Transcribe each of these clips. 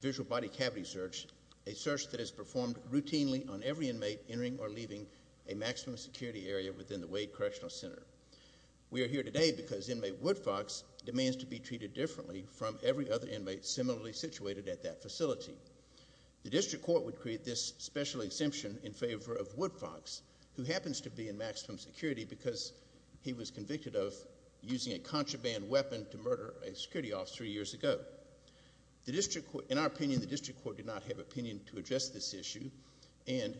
visual body cavity search, a search that is performed routinely on every inmate entering or leaving a maximum security area within the Wade Correctional Center. We are here today because inmate Woodfox demands to be treated differently from every other inmate similarly situated at that facility. The district court would create this special exemption in favor of Woodfox, who happens to be in maximum security because he was convicted of using a contraband weapon to murder a security officer years ago. In our opinion, the district court did not have opinion to address this issue, and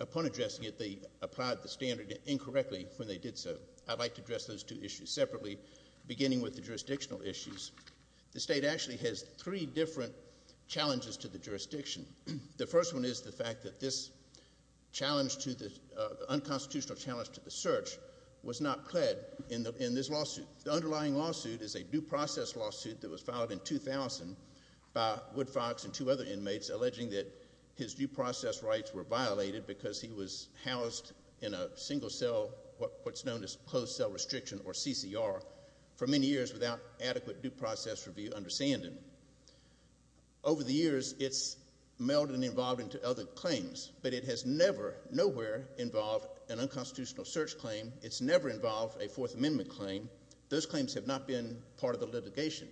upon addressing it, they applied the standard incorrectly when they did so. I'd like to address those two issues separately, beginning with the jurisdictional issues. The state actually has three different challenges to the jurisdiction. The first one is the fact that this unconstitutional challenge to the search was not pled in this lawsuit. The underlying lawsuit is a due process lawsuit that was filed in 2000 by Woodfox and two other inmates alleging that his due process rights were violated because he was housed in a single cell, what's known as closed cell restriction, or CCR, for many years without adequate due process review understanding. Over the years, it's melded and evolved into other claims, but it has never, nowhere, involved an unconstitutional search claim. It's never involved a Fourth Amendment claim. Those claims have not been part of the litigation.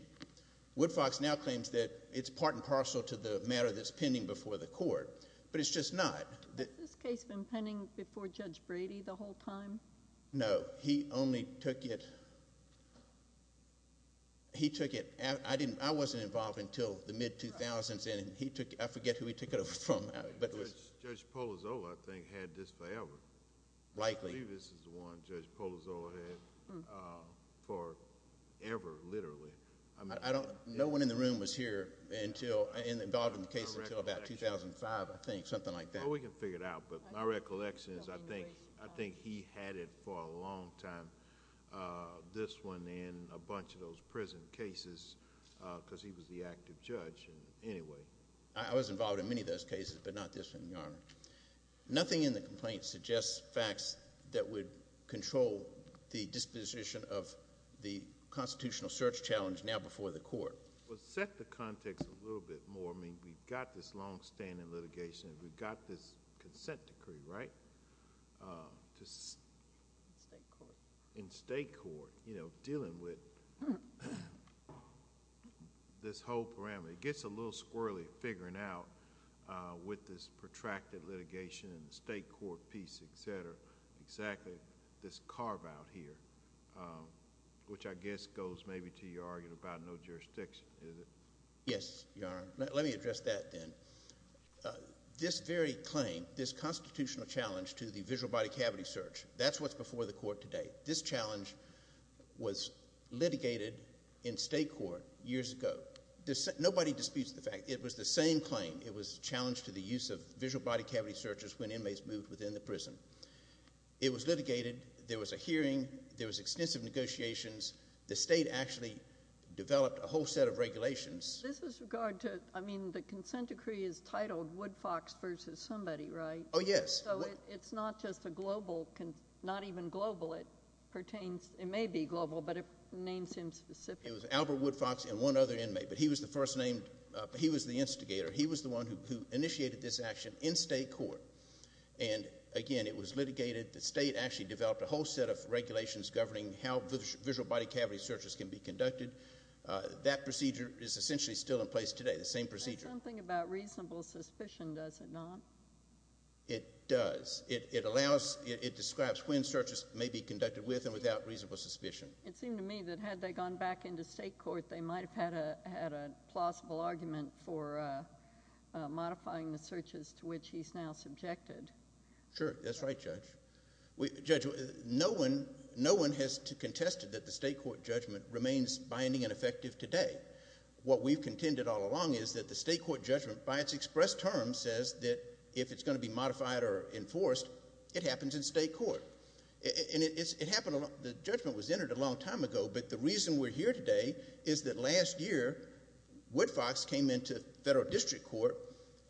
Woodfox now claims that it's part and parcel to the matter that's pending before the court, but it's just not. Has this case been pending before Judge Brady the whole time? No. He only took it, he took it, I wasn't involved until the mid-2000s, and he took, I forget who he took it over from. Judge Polozo, I think, had this favor. Likely. I believe this is the one Judge Polozo had for ever, literally. No one in the room was here until, involved in the case until about 2005, I think, something like that. Well, we can figure it out, but my recollection is I think he had it for a long time, this one and a bunch of those prison cases, because he was the active judge, anyway. I was involved in many of those cases, but not this one, Your Honor. Nothing in the complaint suggests facts that would control the disposition of the constitutional search challenge now before the court. Well, set the context a little bit more. I mean, we've got this longstanding litigation, we've got this consent decree, right? In state court. In state court, dealing with this whole parameter. It gets a little squirrely, figuring out, with this protracted litigation in the state court piece, et cetera, exactly this carve out here, which I guess goes maybe to your argument about no jurisdiction, is it? Yes, Your Honor. Let me address that then. This very claim, this constitutional challenge to the visual body cavity search, that's what's before the court today. This challenge was litigated in state court years ago. Nobody disputes the fact. It was the same claim. It was a challenge to the use of visual body cavity searches when inmates moved within the prison. It was litigated, there was a hearing, there was extensive negotiations. The state actually developed a whole set of regulations. This is regard to, I mean, the consent decree is titled Woodfox versus somebody, right? Oh, yes. So it's not just a global, not even global, it pertains, it may be global, but it names him specifically. It was Albert Woodfox and one other inmate, but he was the first named, he was the instigator. He was the one who initiated this action in state court. And again, it was litigated, the state actually developed a whole set of regulations governing how visual body cavity searches can be conducted. That procedure is essentially still in place today, the same procedure. That's something about reasonable suspicion, does it not? It does. It allows, it describes when searches may be conducted with and without reasonable suspicion. It seemed to me that had they gone back into state court, they might have had a plausible argument for modifying the searches to which he's now subjected. Sure. That's right, Judge. Judge, no one has contested that the state court judgment remains binding and effective today. What we've contended all along is that the state court judgment, by its express term, says that if it's going to be modified or enforced, it happens in state court. And it happened, the judgment was entered a long time ago, but the reason we're here today is that last year, Woodfox came into federal district court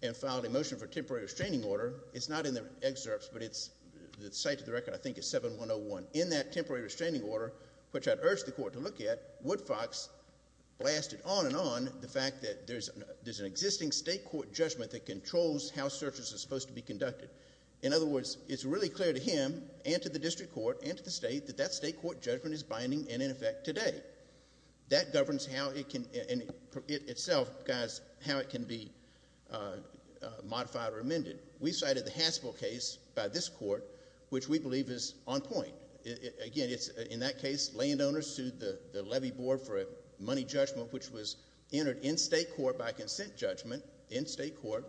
and filed a motion for temporary restraining order. It's not in the excerpts, but it's, the site of the record I think is 7101. In that temporary restraining order, which I urged the court to look at, Woodfox blasted on and on the fact that there's an existing state court judgment that controls how searches are supposed to be conducted. In other words, it's really clear to him and to the district court and to the state that that state court judgment is binding and in effect today. That governs how it can, in itself, guys, how it can be modified or amended. We cited the Haspel case by this court, which we believe is on point. Again, in that case, landowners sued the levy board for a money judgment, which was entered in state court by consent judgment, in state court,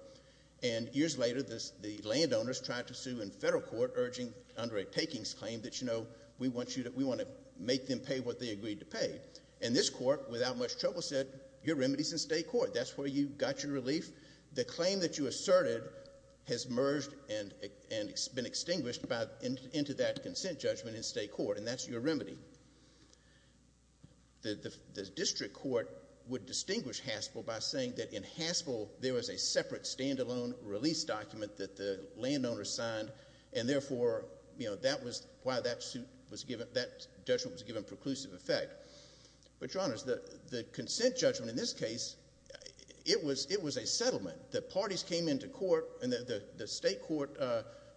and years later, the landowners tried to sue in federal court, urging under a takings claim that, you know, we want you to, we want to make them pay what they agreed to pay. And this court, without much trouble, said, your remedy's in state court. That's where you got your relief. The claim that you asserted has merged and been extinguished by, into that consent judgment in state court, and that's your remedy. The district court would distinguish Haspel by saying that in Haspel, there was a separate stand-alone release document that the landowners signed, and therefore, you know, that was why that suit was given, that judgment was given preclusive effect. But, Your Honors, the consent judgment in this case, it was a settlement. The parties came into court, and the state court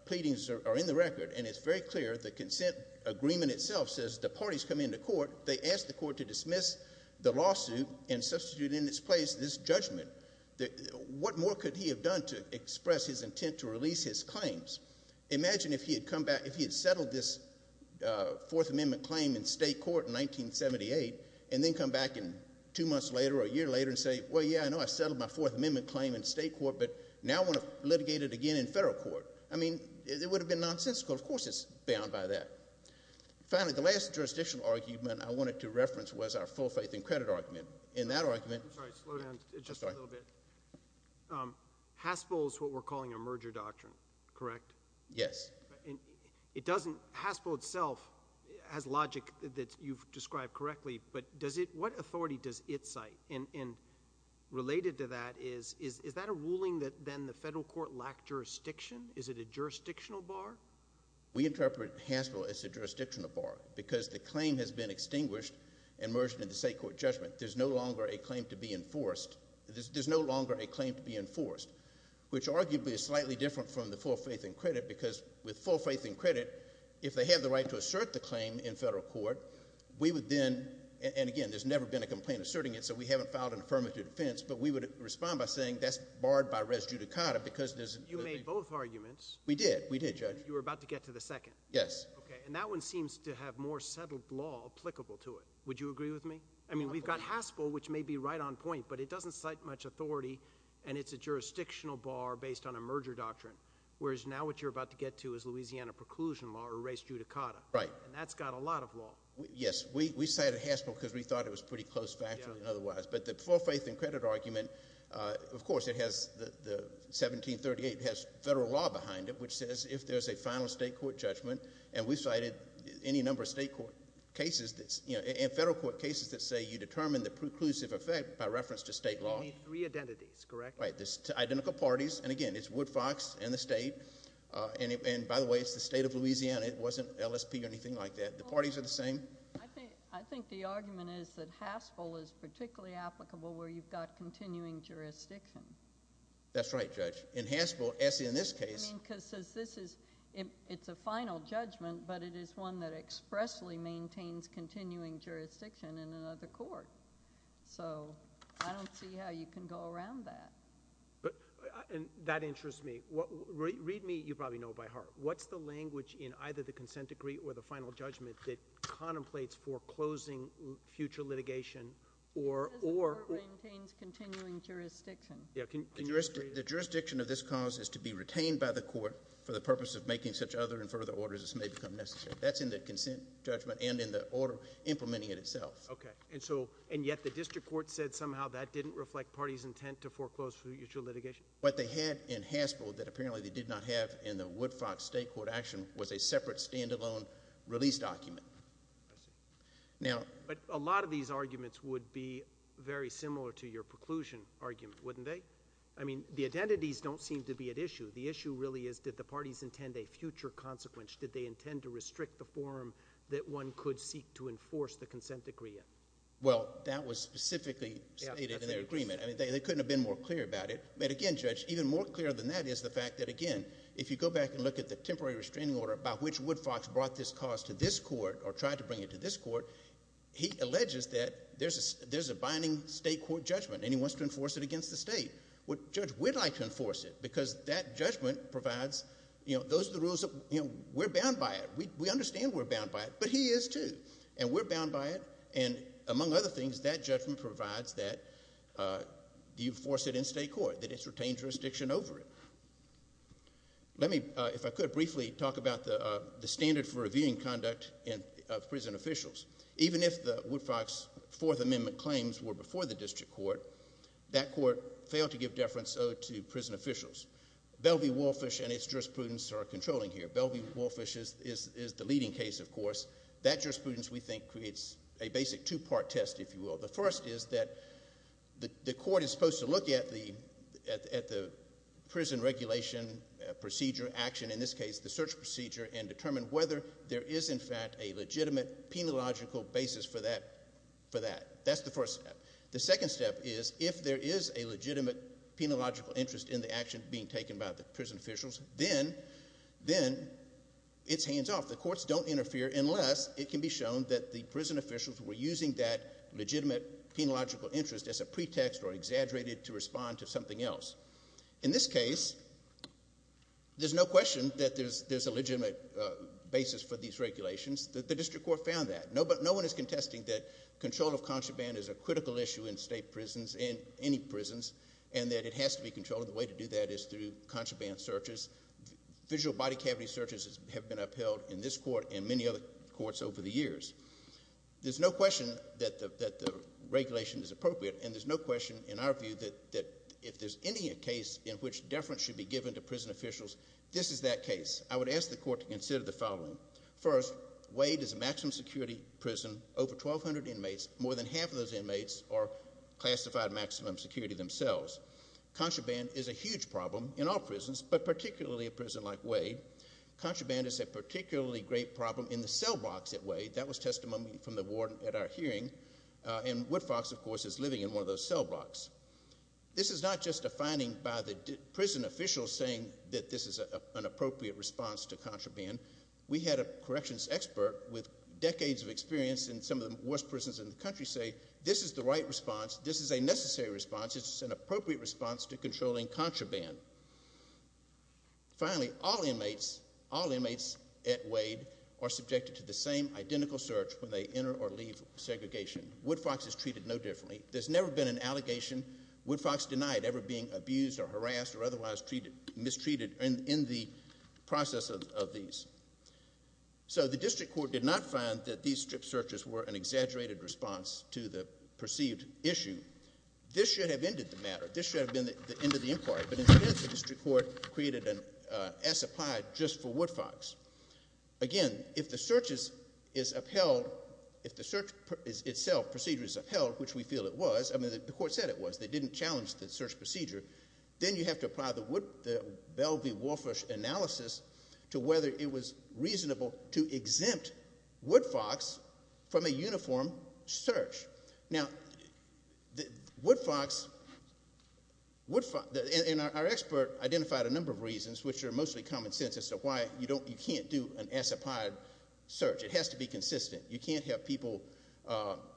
pleadings are in the record, and it's very clear the consent agreement itself says the parties come into court, they ask the court to dismiss the lawsuit and substitute in its place this judgment. What more could he have done to express his intent to release his claims? Imagine if he had come back, if he had settled this Fourth Amendment claim in state court in 1978, and then come back in two months later or a year later and say, well, yeah, I know I settled my Fourth Amendment claim in state court, but now I want to litigate it again in federal court. I mean, it would have been nonsensical. Of course it's bound by that. Finally, the last jurisdictional argument I wanted to reference was our full faith and credit argument. In that argument— I'm sorry, slow down just a little bit. Haspel is what we're calling a merger doctrine, correct? Yes. It doesn't—Haspel itself has logic that you've described correctly, but does it—what authority does it cite? And related to that is, is that a ruling that then the federal court lacked jurisdiction? Is it a jurisdictional bar? We interpret Haspel as a jurisdictional bar because the claim has been extinguished and merged into state court judgment. There's no longer a claim to be enforced. There's no longer a claim to be enforced, which arguably is slightly different from the full faith and credit because with full faith and credit, if they have the right to assert the claim in federal court, we would then— and again, there's never been a complaint asserting it, so we haven't filed an affirmative defense. But we would respond by saying that's barred by res judicata because there's— You made both arguments. We did. We did, Judge. You were about to get to the second. Yes. Okay. And that one seems to have more settled law applicable to it. Would you agree with me? I mean, we've got Haspel, which may be right on point, but it doesn't cite much authority and it's a jurisdictional bar based on a merger doctrine, whereas now what you're about to get to is Louisiana preclusion law or res judicata. Right. And that's got a lot of law. Yes. We cited Haspel because we thought it was pretty close factually and otherwise. But the full faith and credit argument, of course, it has the 1738, it has federal law behind it, which says if there's a final state court judgment, and we cited any number of state court cases that's— you know, and federal court cases that say you determine the preclusive effect by reference to state law. Three identities, correct? Right. Identical parties. And again, it's Woodfox and the state. And by the way, it's the state of Louisiana. It wasn't LSP or anything like that. The parties are the same. I think the argument is that Haspel is particularly applicable where you've got continuing jurisdiction. That's right, Judge. In Haspel, in this case— I mean, because this is—it's a final judgment, but it is one that expressly maintains continuing jurisdiction in another court. So I don't see how you can go around that. But—and that interests me. Read me, you probably know by heart. What's the language in either the consent degree or the final judgment that contemplates foreclosing future litigation or— It says the court maintains continuing jurisdiction. Yeah, can you— The jurisdiction of this cause is to be retained by the court for the purpose of making such other and further orders as may become necessary. That's in the consent judgment and in the order implementing it itself. Okay. And so—and yet the district court said somehow that didn't reflect parties' intent to foreclose future litigation? What they had in Haspel that apparently they did not have in the Woodfox state court action was a separate standalone release document. I see. Now— But a lot of these arguments would be very similar to your preclusion argument, wouldn't they? I mean, the identities don't seem to be at issue. The issue really is, did the parties intend a future consequence? Did they intend to restrict the forum that one could seek to enforce the consent degree in? Well, that was specifically stated in their agreement. I mean, they couldn't have been more clear about it. But again, Judge, even more clear than that is the fact that, again, if you go back and look at the temporary restraining order by which Woodfox brought this cause to this court he alleges that there's a binding state court judgment and he wants to enforce it against the state. Well, Judge, we'd like to enforce it because that judgment provides— you know, those are the rules that—you know, we're bound by it. We understand we're bound by it, but he is too. And we're bound by it. And among other things, that judgment provides that you enforce it in state court, that it's retained jurisdiction over it. Let me, if I could, briefly talk about the standard for reviewing conduct of prison officials. Even if the Woodfox Fourth Amendment claims were before the district court, that court failed to give deference owed to prison officials. Bellevue-Wolfish and its jurisprudence are controlling here. Bellevue-Wolfish is the leading case, of course. That jurisprudence, we think, creates a basic two-part test, if you will. The first is that the court is supposed to look at the prison regulation procedure, in this case, the search procedure, and determine whether there is, in fact, a legitimate penological basis for that. That's the first step. The second step is, if there is a legitimate penological interest in the action being taken by the prison officials, then it's hands off. The courts don't interfere unless it can be shown that the prison officials were using that legitimate penological interest as a pretext or exaggerated to respond to something else. In this case, there's no question that there's a legitimate basis for these regulations. The district court found that. No one is contesting that control of contraband is a critical issue in state prisons, in any prisons, and that it has to be controlled. The way to do that is through contraband searches. Visual body cavity searches have been upheld in this court and many other courts over the years. There's no question that the regulation is appropriate, and there's no question, in our view, that if there's any case in which deference should be given to prison officials, this is that case. I would ask the court to consider the following. First, Wade is a maximum security prison, over 1,200 inmates, more than half of those inmates are classified maximum security themselves. Contraband is a huge problem in all prisons, but particularly a prison like Wade. Contraband is a particularly great problem in the cell blocks at Wade. That was testimony from the ward at our hearing, and Woodfox, of course, is living in one of those cell blocks. This is not just a finding by the prison officials saying that this is an appropriate response to contraband. We had a corrections expert with decades of experience in some of the worst prisons in the country say, this is the right response, this is a necessary response, this is an appropriate response to controlling contraband. Finally, all inmates at Wade are subjected to the same identical search when they enter or leave segregation. Woodfox is treated no differently. There's never been an allegation Woodfox denied ever being abused or harassed or otherwise mistreated in the process of these. So the district court did not find that these strip searches were an exaggerated response to the perceived issue. This should have ended the matter. This should have been the end of the inquiry, but instead the district court created an S applied just for Woodfox. Again, if the search is upheld, if the search itself procedure is upheld, which we feel it was. I mean, the court said it was. They didn't challenge the search procedure. Then you have to apply the Bell v. Walfrush analysis to whether it was reasonable to exempt Woodfox from a uniform search. Which are mostly common sense as to why you can't do an S applied search. It has to be consistent. You can't have people,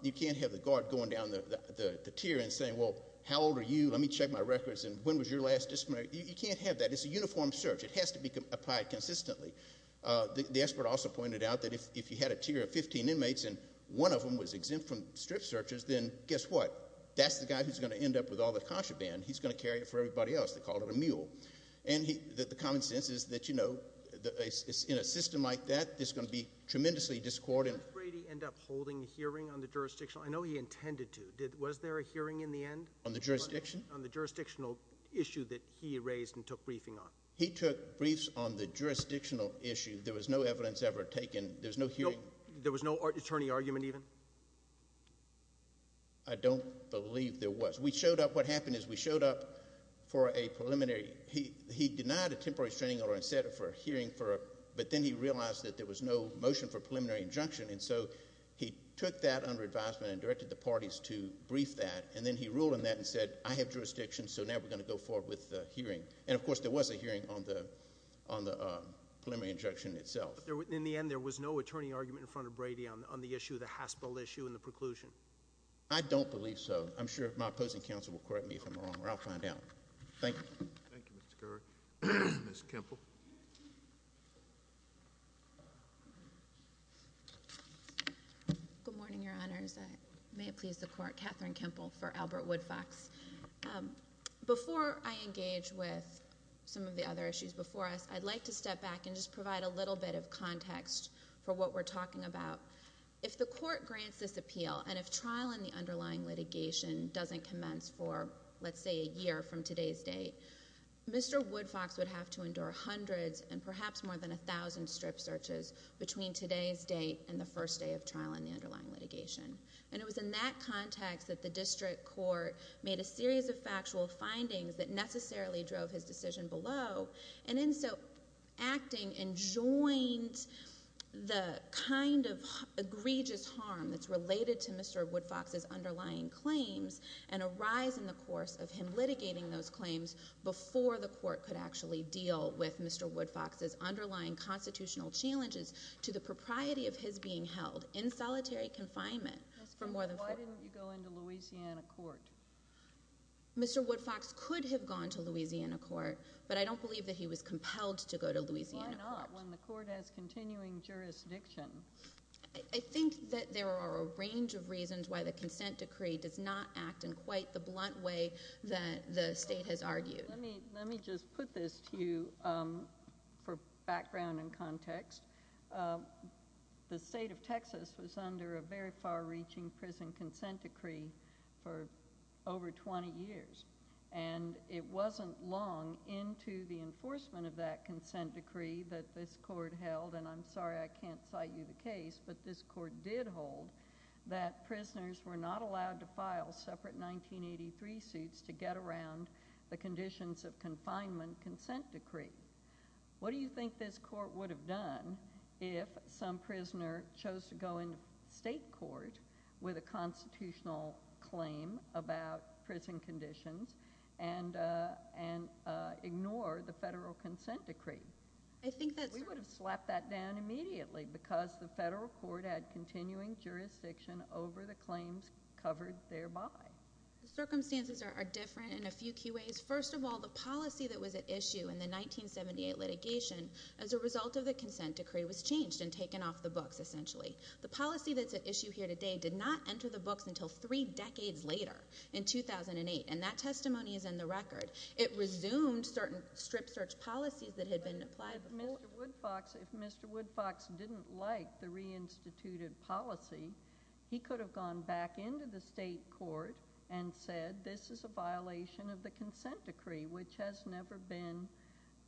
you can't have the guard going down the tier and saying, well, how old are you? Let me check my records. And when was your last disciplinary? You can't have that. It's a uniform search. It has to be applied consistently. The expert also pointed out that if you had a tier of 15 inmates and one of them was exempt from strip searches, then guess what? That's the guy who's going to end up with all the contraband. He's going to carry it for everybody else. They call it a mule. And the common sense is that in a system like that, there's going to be tremendously discordant. Did Brady end up holding a hearing on the jurisdictional? I know he intended to. Was there a hearing in the end? On the jurisdiction? On the jurisdictional issue that he raised and took briefing on. He took briefs on the jurisdictional issue. There was no evidence ever taken. There was no hearing. There was no attorney argument even? I don't believe there was. What happened is we showed up for a preliminary. He denied a temporary restraining order and said for a hearing. But then he realized that there was no motion for preliminary injunction. And so he took that under advisement and directed the parties to brief that. And then he ruled on that and said, I have jurisdiction, so now we're going to go forward with the hearing. And of course, there was a hearing on the preliminary injunction itself. In the end, there was no attorney argument in front of Brady on the Haspel issue and the preclusion? I don't believe so. I'm sure my opposing counsel will correct me if I'm wrong, or I'll find out. Thank you. Thank you, Mr. Geraghty. Ms. Kempel. Good morning, your honors. May it please the court, Katherine Kempel for Albert Woodfox. Before I engage with some of the other issues before us, I'd like to step back and just provide a little bit of context for what we're talking about. If the court grants this appeal, and if trial in the underlying litigation doesn't commence for, let's say, a year from today's date, Mr. Woodfox would have to endure hundreds and perhaps more than 1,000 strip searches between today's date and the first day of trial in the underlying litigation. And it was in that context that the district court made a series of factual findings that necessarily drove his decision below. And in so acting, enjoined the kind of egregious harm that's related to Mr. Woodfox's underlying claims, and a rise in the course of him litigating those claims before the court could actually deal with Mr. Woodfox's underlying constitutional challenges to the propriety of his being held in solitary confinement for more than four years. Why didn't you go into Louisiana court? Mr. Woodfox could have gone to Louisiana court, but I don't believe that he was compelled to go to Louisiana court. Why not, when the court has continuing jurisdiction? I think that there are a range of reasons why the consent decree does not act in quite the blunt way that the state has argued. Let me just put this to you for background and context. The state of Texas was under a very far-reaching prison consent decree for over 20 years. And it wasn't long into the enforcement of that consent decree that this court held, and I'm sorry I can't cite you the case, but this court did hold that prisoners were not allowed to file separate 1983 suits to get around the conditions of confinement consent decree. What do you think this court would have done if some prisoner chose to go into state court with a constitutional claim about prison conditions and ignore the federal consent decree? We would have slapped that down immediately because the federal court had continuing jurisdiction over the claims covered thereby. The circumstances are different in a few key ways. First of all, the policy that was at issue in the 1978 litigation as a result of the consent decree was changed and taken off the books, essentially. The policy that's at issue here today did not enter the books until three decades later in 2008, and that testimony is in the record. It resumed certain strip search policies that had been applied before. If Mr. Woodfox didn't like the reinstituted policy, he could have gone back into the state court and said this is a violation of the consent decree, which has never been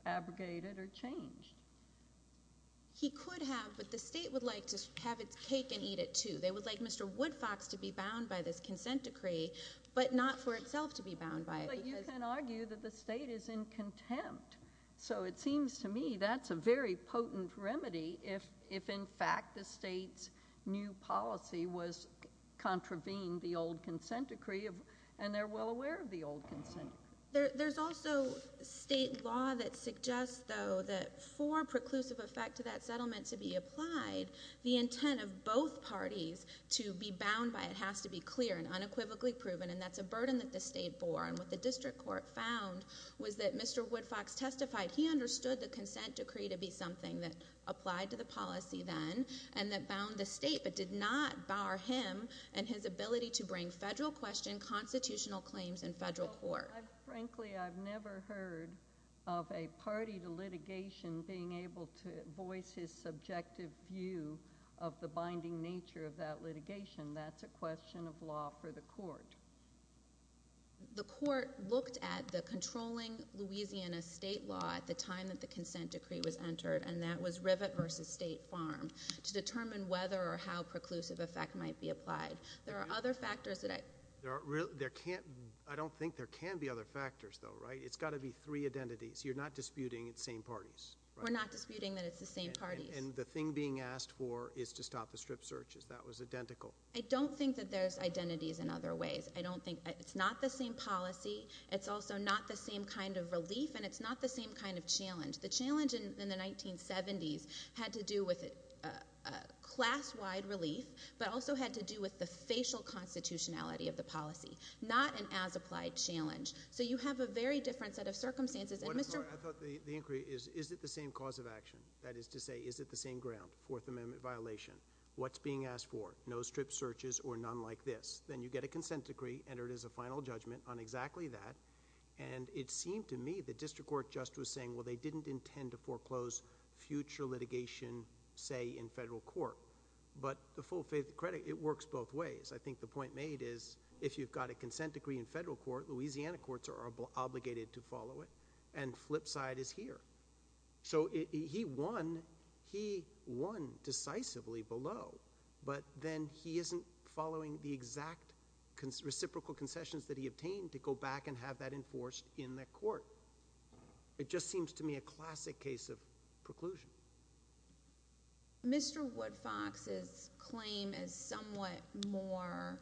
abrogated or changed. He could have, but the state would like to have its cake and eat it, too. They would like Mr. Woodfox to be bound by this consent decree, but not for itself to be bound by it. But you can argue that the state is in contempt. So it seems to me that's a very potent remedy if, in fact, the state's new policy was contravening the old consent decree and they're well aware of the old consent decree. There's also state law that suggests, though, that for preclusive effect to that settlement to be applied, the intent of both parties to be bound by it has to be clear and unequivocally proven, and that's a burden that the state bore. And what the district court found was that Mr. Woodfox testified he understood the consent decree to be something that applied to the policy then and that bound the state, but did not bar him and his ability to bring federal question, constitutional claims in federal court. Frankly, I've never heard of a party to litigation being able to voice his subjective view of the binding nature of that litigation. That's a question of law for the court. The court looked at the controlling Louisiana state law at the time that the consent decree was entered, and that was Rivett v. State Farm, to determine whether or how preclusive effect might be applied. There are other factors that... There can't... I don't think there can be other factors, though, right? It's got to be three identities. You're not disputing it's the same parties. We're not disputing that it's the same parties. And the thing being asked for is to stop the strip searches. That was identical. I don't think that there's identities in other ways. I don't think... It's not the same policy. It's also not the same kind of relief, and it's not the same kind of challenge. The challenge in the 1970s had to do with class-wide relief, but also had to do with the facial constitutionality of the policy, not an as-applied challenge. So you have a very different set of circumstances. And, Mr... I thought the inquiry is, is it the same cause of action? That is to say, is it the same ground? Fourth Amendment violation. What's being asked for? No strip searches or none like this. Then you get a consent decree, entered as a final judgment on exactly that. And it seemed to me the district court just was saying, well, they didn't intend to foreclose future litigation, say, in federal court. But the full credit, it works both ways. I think the point made is, if you've got a consent decree in federal court, Louisiana courts are obligated to follow it. And flip side is here. So he won. He won decisively below. But then he isn't following the exact reciprocal concessions that he obtained to go back and have that enforced in the court. It just seems to me a classic case of preclusion. Mr. Woodfox's claim is somewhat more...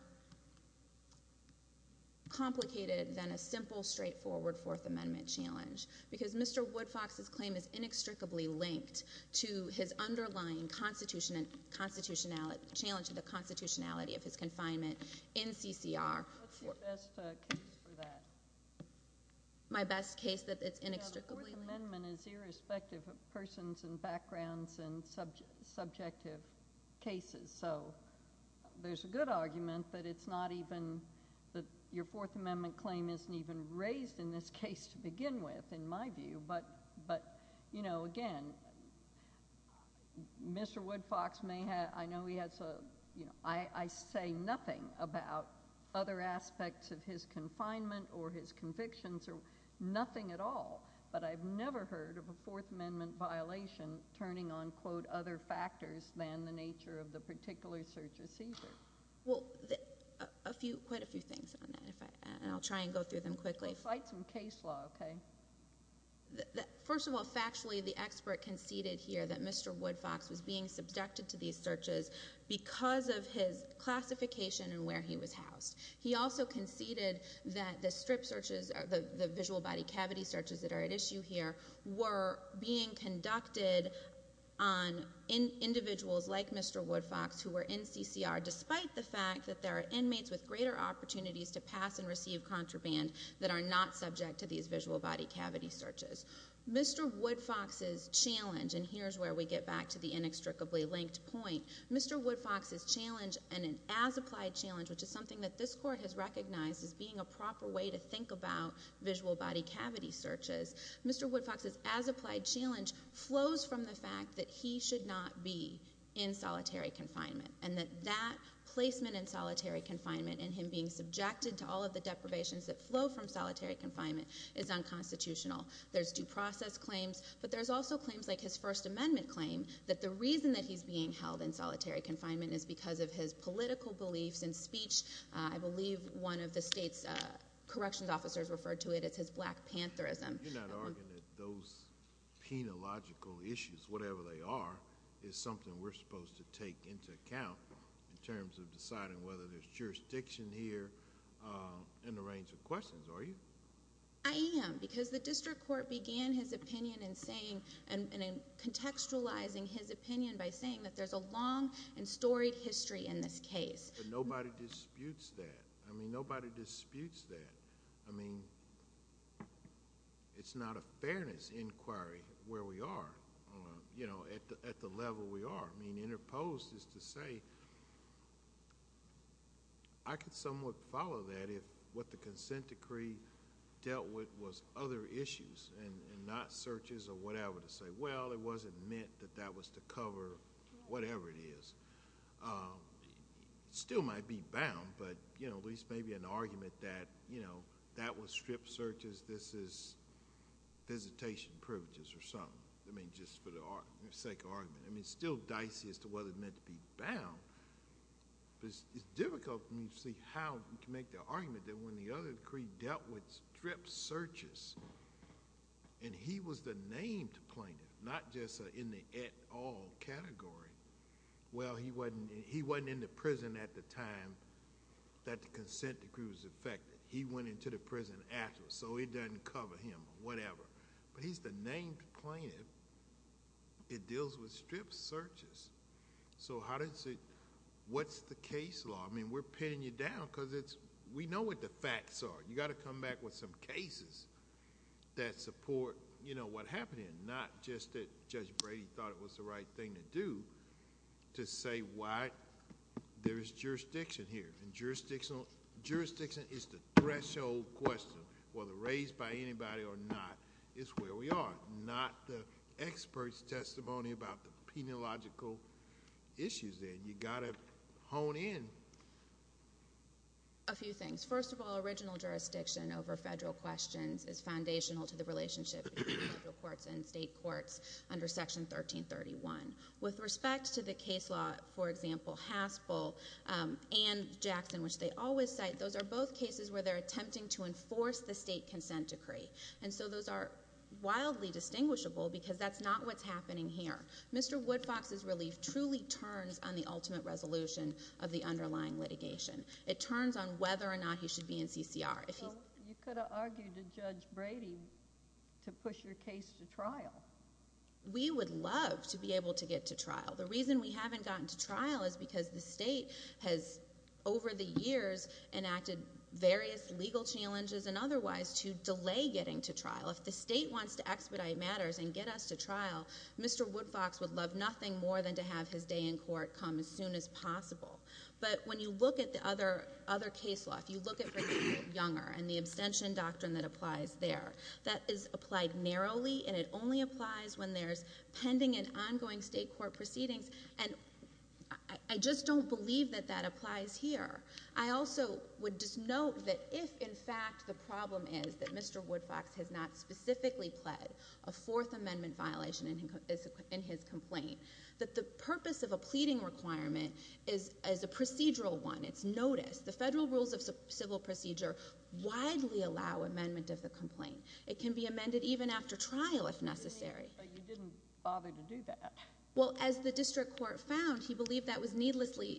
..complicated than a simple, straightforward Fourth Amendment challenge. Because Mr. Woodfox's claim is inextricably linked to his underlying constitutionality... ..challenge to the constitutionality of his confinement in CCR. What's your best case for that? My best case that it's inextricably linked? The Fourth Amendment is irrespective of persons and backgrounds and subjective cases. So there's a good argument that it's not even... ..that your Fourth Amendment claim isn't even raised in this case to begin with, in my view. But, you know, again, Mr Woodfox may have... I know he has a... I say nothing about other aspects of his confinement or his convictions or nothing at all, but I've never heard of a Fourth Amendment violation turning on, quote, other factors than the nature of the particular search receiver. Well, a few...quite a few things on that. And I'll try and go through them quickly. Well, cite some case law, OK? First of all, factually, the expert conceded here that Mr Woodfox was being subjected to these searches because of his classification and where he was housed. He also conceded that the strip searches, the visual body cavity searches that are at issue here, were being conducted on individuals like Mr Woodfox who were in CCR, despite the fact that there are inmates with greater opportunities to pass and receive contraband that are not subject to these visual body cavity searches. Mr Woodfox's challenge, and here's where we get back to the inextricably linked point, Mr Woodfox's challenge, and an as-applied challenge, which is something that this court has recognized as being a proper way to think about visual body cavity searches, Mr Woodfox's as-applied challenge flows from the fact that he should not be in solitary confinement and that that placement in solitary confinement and him being subjected to all of the deprivations that flow from solitary confinement is unconstitutional. There's due process claims, but there's also claims like his First Amendment claim that the reason that he's being held in solitary confinement is because of his political beliefs and speech. I believe one of the state's corrections officers referred to it as his Black Pantherism. You're not arguing that those penological issues, whatever they are, is something we're supposed to take into account in terms of deciding whether there's jurisdiction here in the range of questions, are you? I am, because the district court began his opinion in contextualizing his opinion by saying that there's a long and storied history in this case. But nobody disputes that. I mean, nobody disputes that. I mean, it's not a fairness inquiry where we are, you know, at the level we are. I mean, interposed is to say I could somewhat follow that if what the consent decree dealt with was other issues and not searches or whatever to say, well, it wasn't meant that that was to cover whatever it is. It still might be bound, but, you know, at least maybe an argument that, you know, that was strip searches, this is visitation privileges or something, I mean, just for the sake of argument. I mean, it's still dicey as to whether it's meant to be bound, but it's difficult for me to see how we can make the argument that when the other decree dealt with strip searches and he was the named plaintiff, not just in the et al. category, well, he wasn't in the prison at the time that the consent decree was effected. He went into the prison afterwards, so it doesn't cover him or whatever. But he's the named plaintiff. It deals with strip searches. So how does it—what's the case law? I mean, we're pinning you down because we know what the facts are. You've got to come back with some cases that support, you know, what happened and not just that Judge Brady thought it was the right thing to do to say why there is jurisdiction here. And jurisdiction is the threshold question, whether raised by anybody or not, is where we are, not the expert's testimony about the penological issues there. You've got to hone in. A few things. First of all, original jurisdiction over federal questions is foundational to the relationship between federal courts and state courts under Section 1331. With respect to the case law, for example, Haspel and Jackson, which they always cite, those are both cases where they're attempting to enforce the state consent decree. And so those are wildly distinguishable because that's not what's happening here. Mr. Woodfox's relief truly turns on the ultimate resolution of the underlying litigation. It turns on whether or not he should be in CCR. You could argue to Judge Brady to push your case to trial. We would love to be able to get to trial. The reason we haven't gotten to trial is because the state has, over the years, enacted various legal challenges and otherwise to delay getting to trial. Mr. Woodfox would love nothing more than to have his day in court come as soon as possible. But when you look at the other case law, if you look at Brady v. Younger and the abstention doctrine that applies there, that is applied narrowly, and it only applies when there's pending and ongoing state court proceedings. And I just don't believe that that applies here. I also would just note that if, in fact, the problem is that Mr. Woodfox has not specifically pled a Fourth Amendment violation in his complaint, that the purpose of a pleading requirement is a procedural one. It's notice. The federal rules of civil procedure widely allow amendment of the complaint. It can be amended even after trial if necessary. But you didn't bother to do that. Well, as the district court found, he believed that was needlessly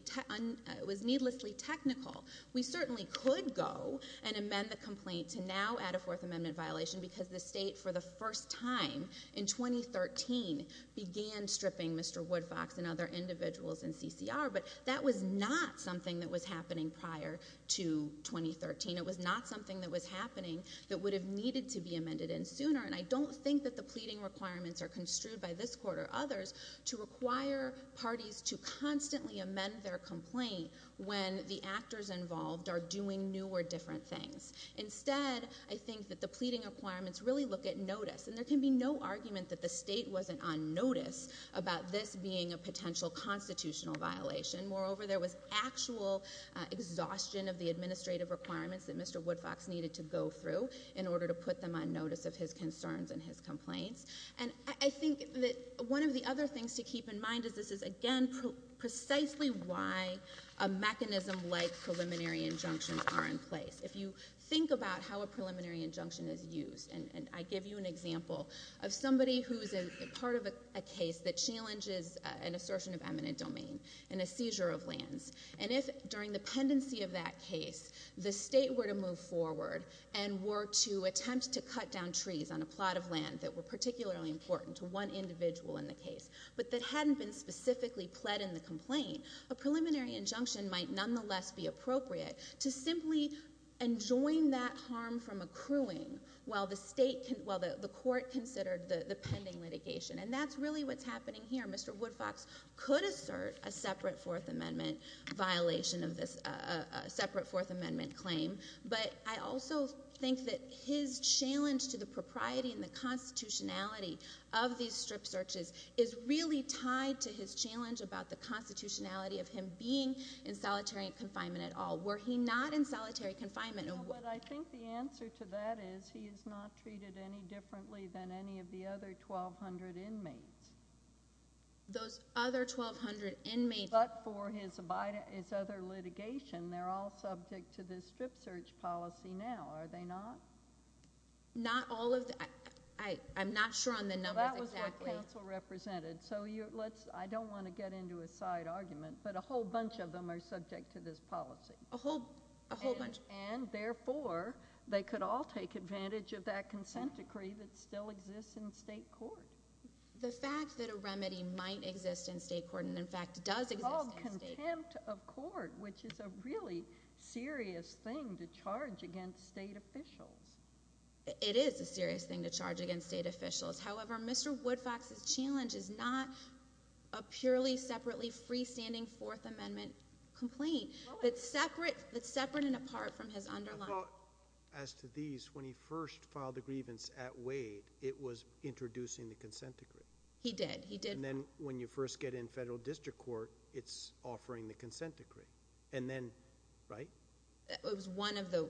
technical. We certainly could go and amend the complaint to now add a Fourth Amendment violation because the state, for the first time in 2013, began stripping Mr. Woodfox and other individuals in CCR, but that was not something that was happening prior to 2013. It was not something that was happening that would have needed to be amended in sooner, and I don't think that the pleading requirements are construed by this court or others to require parties to constantly amend their complaint when the actors involved are doing new or different things. Instead, I think that the pleading requirements really look at notice, and there can be no argument that the state wasn't on notice about this being a potential constitutional violation. Moreover, there was actual exhaustion of the administrative requirements that Mr. Woodfox needed to go through in order to put them on notice of his concerns and his complaints. And I think that one of the other things to keep in mind is this is, again, precisely why a mechanism like preliminary injunctions are in place. If you think about how a preliminary injunction is used, and I give you an example of somebody who is part of a case that challenges an assertion of eminent domain and a seizure of lands, and if during the pendency of that case the state were to move forward and were to attempt to cut down trees on a plot of land that were particularly important to one individual in the case but that hadn't been specifically pled in the complaint, a preliminary injunction might nonetheless be appropriate to simply enjoin that harm from accruing while the court considered the pending litigation. And that's really what's happening here. Mr. Woodfox could assert a separate Fourth Amendment claim, but I also think that his challenge to the propriety and the constitutionality of these strip searches is really tied to his challenge about the constitutionality of him being in solitary confinement at all. Were he not in solitary confinement? No, but I think the answer to that is he is not treated any differently than any of the other 1,200 inmates. Those other 1,200 inmates? But for his other litigation, they're all subject to this strip search policy now, are they not? Not all of them. I'm not sure on the numbers exactly. That was what counsel represented, so I don't want to get into a side argument, but a whole bunch of them are subject to this policy. A whole bunch. And therefore, they could all take advantage of that consent decree that still exists in state court. The fact that a remedy might exist in state court and, in fact, does exist in state court. It's called contempt of court, which is a really serious thing to charge against state officials. It is a serious thing to charge against state officials. However, Mr. Woodfox's challenge is not a purely separately freestanding Fourth Amendment complaint. It's separate and apart from his underlying. Well, as to these, when he first filed the grievance at Wade, it was introducing the consent decree. He did. He did. And then when you first get in federal district court, it's offering the consent decree. And then, right? It was one of the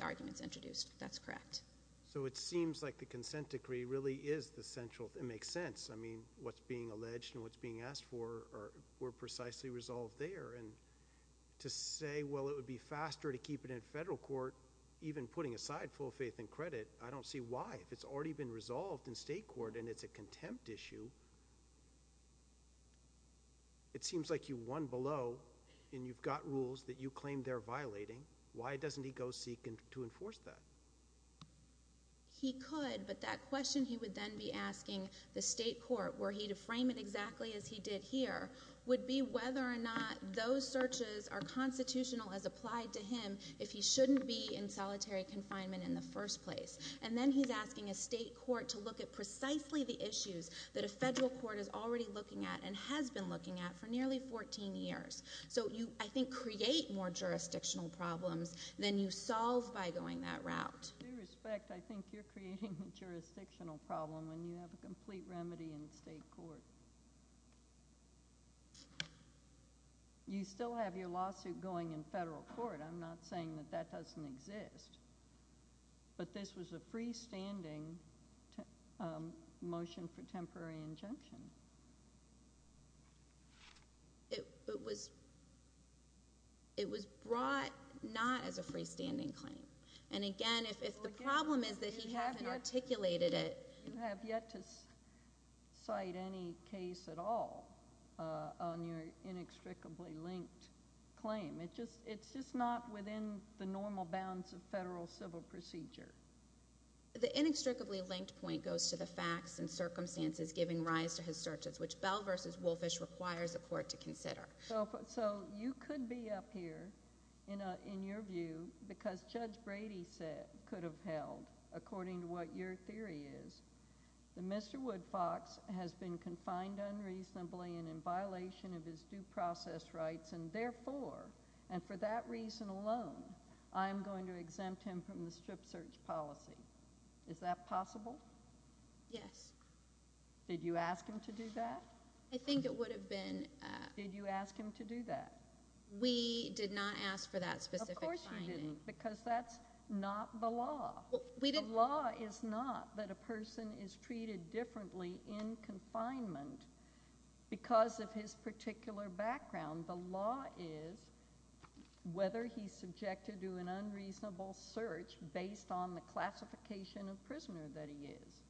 arguments introduced. That's correct. So it seems like the consent decree really is the central thing. It makes sense. I mean, what's being alleged and what's being asked for were precisely resolved there. And to say, well, it would be faster to keep it in federal court, even putting aside full faith and credit, I don't see why. If it's already been resolved in state court and it's a contempt issue, it seems like you won below. And you've got rules that you claim they're violating. Why doesn't he go seek to enforce that? He could, but that question he would then be asking the state court, were he to frame it exactly as he did here, would be whether or not those searches are constitutional as applied to him if he shouldn't be in solitary confinement in the first place. And then he's asking a state court to look at precisely the issues that a federal court is already looking at and has been looking at for nearly 14 years. So you, I think, create more jurisdictional problems than you solve by going that route. With due respect, I think you're creating a jurisdictional problem when you have a complete remedy in state court. You still have your lawsuit going in federal court. I'm not saying that that doesn't exist. But this was a freestanding motion for temporary injunction. It was brought not as a freestanding claim. And again, if the problem is that he hasn't articulated it. You have yet to cite any case at all on your inextricably linked claim. It's just not within the normal bounds of federal civil procedure. The inextricably linked point goes to the facts and circumstances giving rise to his searches, which Bell v. Wolfish requires a court to consider. So you could be up here, in your view, because Judge Brady said, could have held, according to what your theory is, that Mr. Woodfox has been confined unreasonably and in violation of his due process rights. And therefore, and for that reason alone, I'm going to exempt him from the strip search policy. Is that possible? Yes. Did you ask him to do that? I think it would have been. Did you ask him to do that? We did not ask for that specific finding. Of course you didn't, because that's not the law. The law is not that a person is treated differently in confinement because of his particular background. The law is whether he's subjected to an unreasonable search based on the classification of prisoner that he is.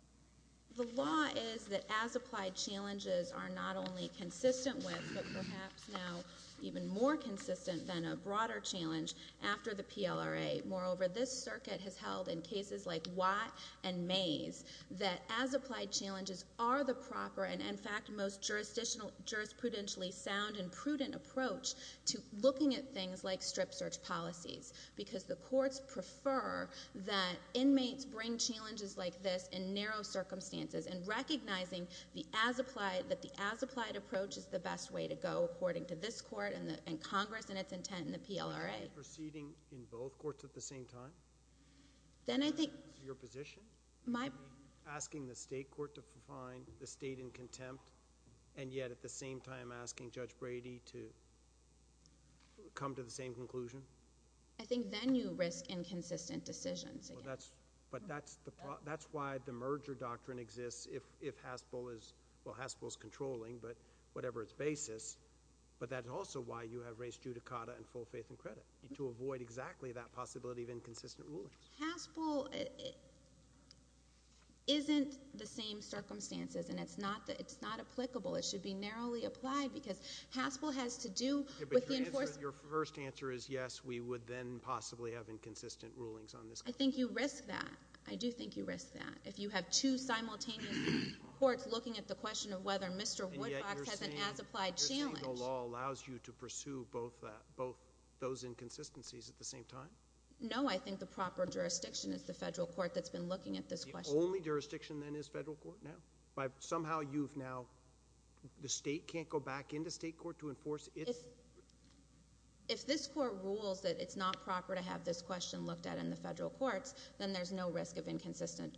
The law is that as-applied challenges are not only consistent with, but perhaps now even more consistent than a broader challenge after the PLRA. Moreover, this circuit has held in cases like Watt and Mays that as-applied challenges are the proper and, in fact, most jurisprudentially sound and prudent approach to looking at things like strip search policies. Because the courts prefer that inmates bring challenges like this in narrow circumstances, and recognizing that the as-applied approach is the best way to go according to this court and Congress and its intent in the PLRA. Are you proceeding in both courts at the same time? Then I think— Is that your position? My— Are you asking the state court to find the state in contempt, and yet at the same time asking Judge Brady to come to the same conclusion? I think then you risk inconsistent decisions. But that's why the merger doctrine exists if Haspel is—well, Haspel is controlling, but whatever its basis. But that's also why you have raised judicata and full faith and credit, to avoid exactly that possibility of inconsistent rulings. Haspel isn't the same circumstances, and it's not applicable. It should be narrowly applied because Haspel has to do with the enforcement— Your first answer is yes, we would then possibly have inconsistent rulings on this case. I think you risk that. I do think you risk that. If you have two simultaneous courts looking at the question of whether Mr. Woodcock has an as-applied challenge— And yet you're saying the law allows you to pursue both those inconsistencies at the same time? No, I think the proper jurisdiction is the federal court that's been looking at this question. The only jurisdiction, then, is federal court now? Somehow you've now—the state can't go back into state court to enforce its— If this court rules that it's not proper to have this question looked at in the federal courts, then there's no risk of inconsistent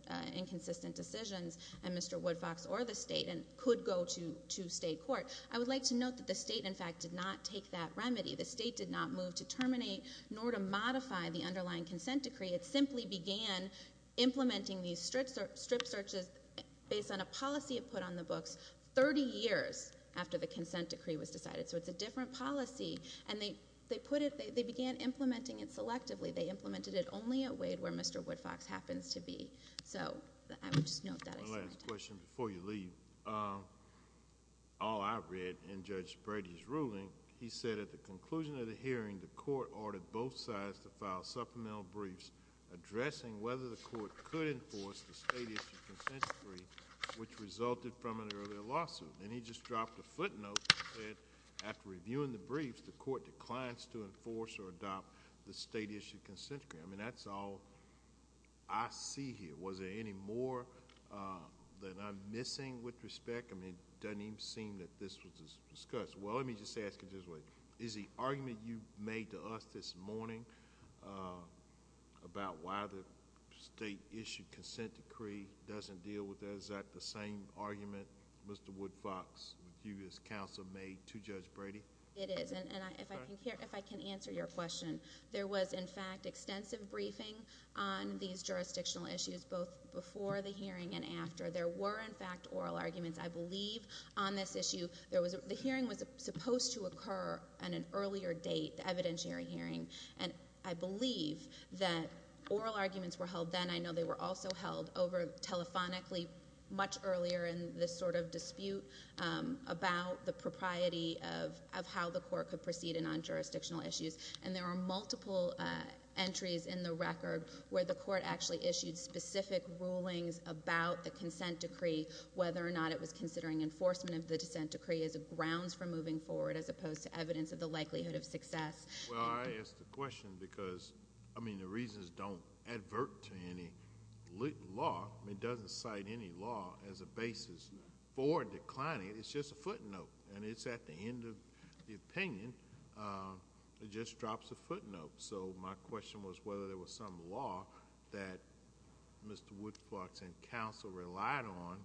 decisions, and Mr. Woodcocks or the state could go to state court. I would like to note that the state, in fact, did not take that remedy. The state did not move to terminate nor to modify the underlying consent decree. It simply began implementing these strip searches based on a policy it put on the books 30 years after the consent decree was decided. So it's a different policy, and they put it—they began implementing it selectively. They implemented it only at Wade, where Mr. Woodcocks happens to be. So I would just note that. One last question before you leave. All I read in Judge Brady's ruling, he said at the conclusion of the hearing, the court ordered both sides to file supplemental briefs addressing whether the court could enforce the state-issued consent decree, which resulted from an earlier lawsuit. And he just dropped a footnote that said, after reviewing the briefs, the court declines to enforce or adopt the state-issued consent decree. I mean, that's all I see here. Was there any more that I'm missing with respect? I mean, it doesn't even seem that this was discussed. Well, let me just ask it this way. Is the argument you made to us this morning about why the state-issued consent decree doesn't deal with it, is that the same argument Mr. Woodcocks, you as counsel, made to Judge Brady? It is. And if I can answer your question, there was, in fact, extensive briefing on these jurisdictional issues, both before the hearing and after. There were, in fact, oral arguments, I believe, on this issue. The hearing was supposed to occur on an earlier date, the evidentiary hearing, and I believe that oral arguments were held then. And I know they were also held over telephonically much earlier in this sort of dispute about the propriety of how the court could proceed in non-jurisdictional issues. And there are multiple entries in the record where the court actually issued specific rulings about the consent decree, whether or not it was considering enforcement of the dissent decree as a grounds for moving forward, as opposed to evidence of the likelihood of success. Well, I ask the question because, I mean, the reasons don't advert to any law. It doesn't cite any law as a basis for declining. It's just a footnote, and it's at the end of the opinion. It just drops a footnote. So my question was whether there was some law that Mr. Woodcocks and counsel relied on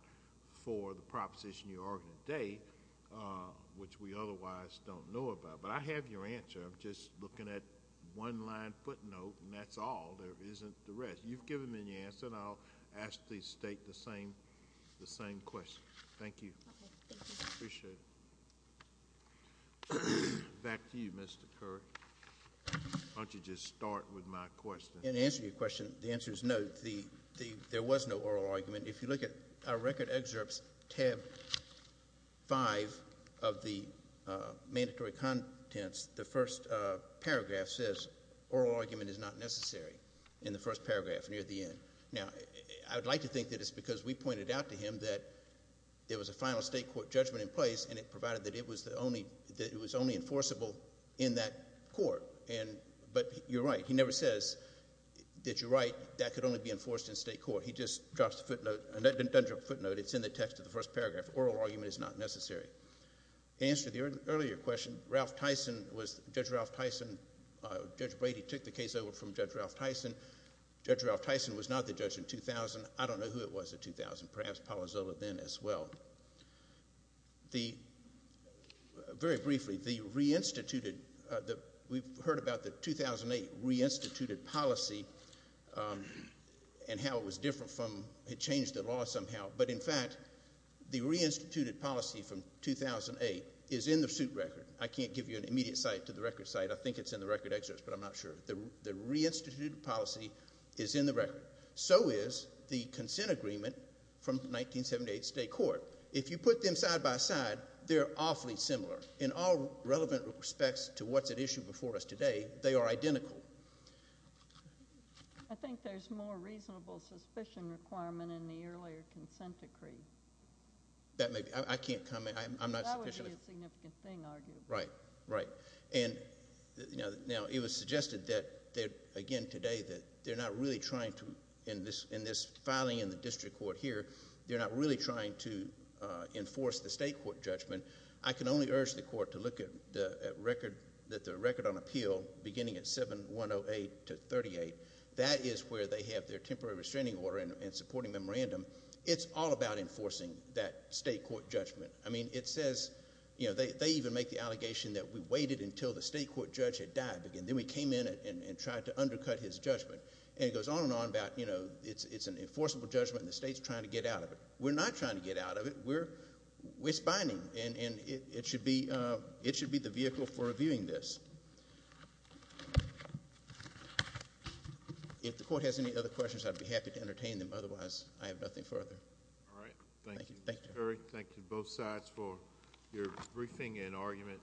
for the proposition you argued today, which we otherwise don't know about. But I have your answer. I'm just looking at one line footnote, and that's all. There isn't the rest. You've given me the answer, and I'll ask the State the same question. Thank you. Okay, thank you. Appreciate it. Back to you, Mr. Curry. Why don't you just start with my question? In answering your question, the answer is no. There was no oral argument. If you look at our record excerpts, tab five of the mandatory contents, the first paragraph says, oral argument is not necessary in the first paragraph near the end. Now, I would like to think that it's because we pointed out to him that there was a final State court judgment in place, and it provided that it was only enforceable in that court. But you're right. He never says that you're right. That could only be enforced in State court. He just drops a footnote. It doesn't drop a footnote. It's in the text of the first paragraph. Oral argument is not necessary. In answer to the earlier question, Judge Brady took the case over from Judge Ralph Tyson. Judge Ralph Tyson was not the judge in 2000. I don't know who it was in 2000, perhaps Palazzolo then as well. Very briefly, the reinstituted, we've heard about the 2008 reinstituted policy and how it was different from, it changed the law somehow. But, in fact, the reinstituted policy from 2008 is in the suit record. I can't give you an immediate cite to the record cite. I think it's in the record excerpts, but I'm not sure. The reinstituted policy is in the record. So is the consent agreement from 1978 State court. If you put them side by side, they're awfully similar. In all relevant respects to what's at issue before us today, they are identical. I think there's more reasonable suspicion requirement in the earlier consent decree. That may be. I can't comment. I'm not sufficiently. That would be a significant thing, arguably. Right. Right. And now it was suggested that, again, today that they're not really trying to, in this filing in the district court here, they're not really trying to enforce the State court judgment. I can only urge the court to look at the record on appeal beginning at 7108 to 38. That is where they have their temporary restraining order and supporting memorandum. It's all about enforcing that State court judgment. I mean, it says, you know, they even make the allegation that we waited until the State court judge had died. Then we came in and tried to undercut his judgment. And it goes on and on about, you know, it's an enforceable judgment and the State's trying to get out of it. We're not trying to get out of it. We're spying, and it should be the vehicle for reviewing this. If the court has any other questions, I'd be happy to entertain them. Otherwise, I have nothing further. All right. Thank you. Thank you. Mr. Curry, thank you, both sides, for your briefing and argument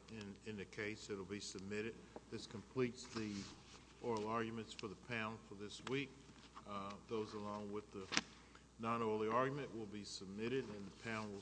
in the case. It will be submitted. This completes the oral arguments for the panel for this week. Those along with the non-oral argument will be submitted, and the panel will stand adjourned.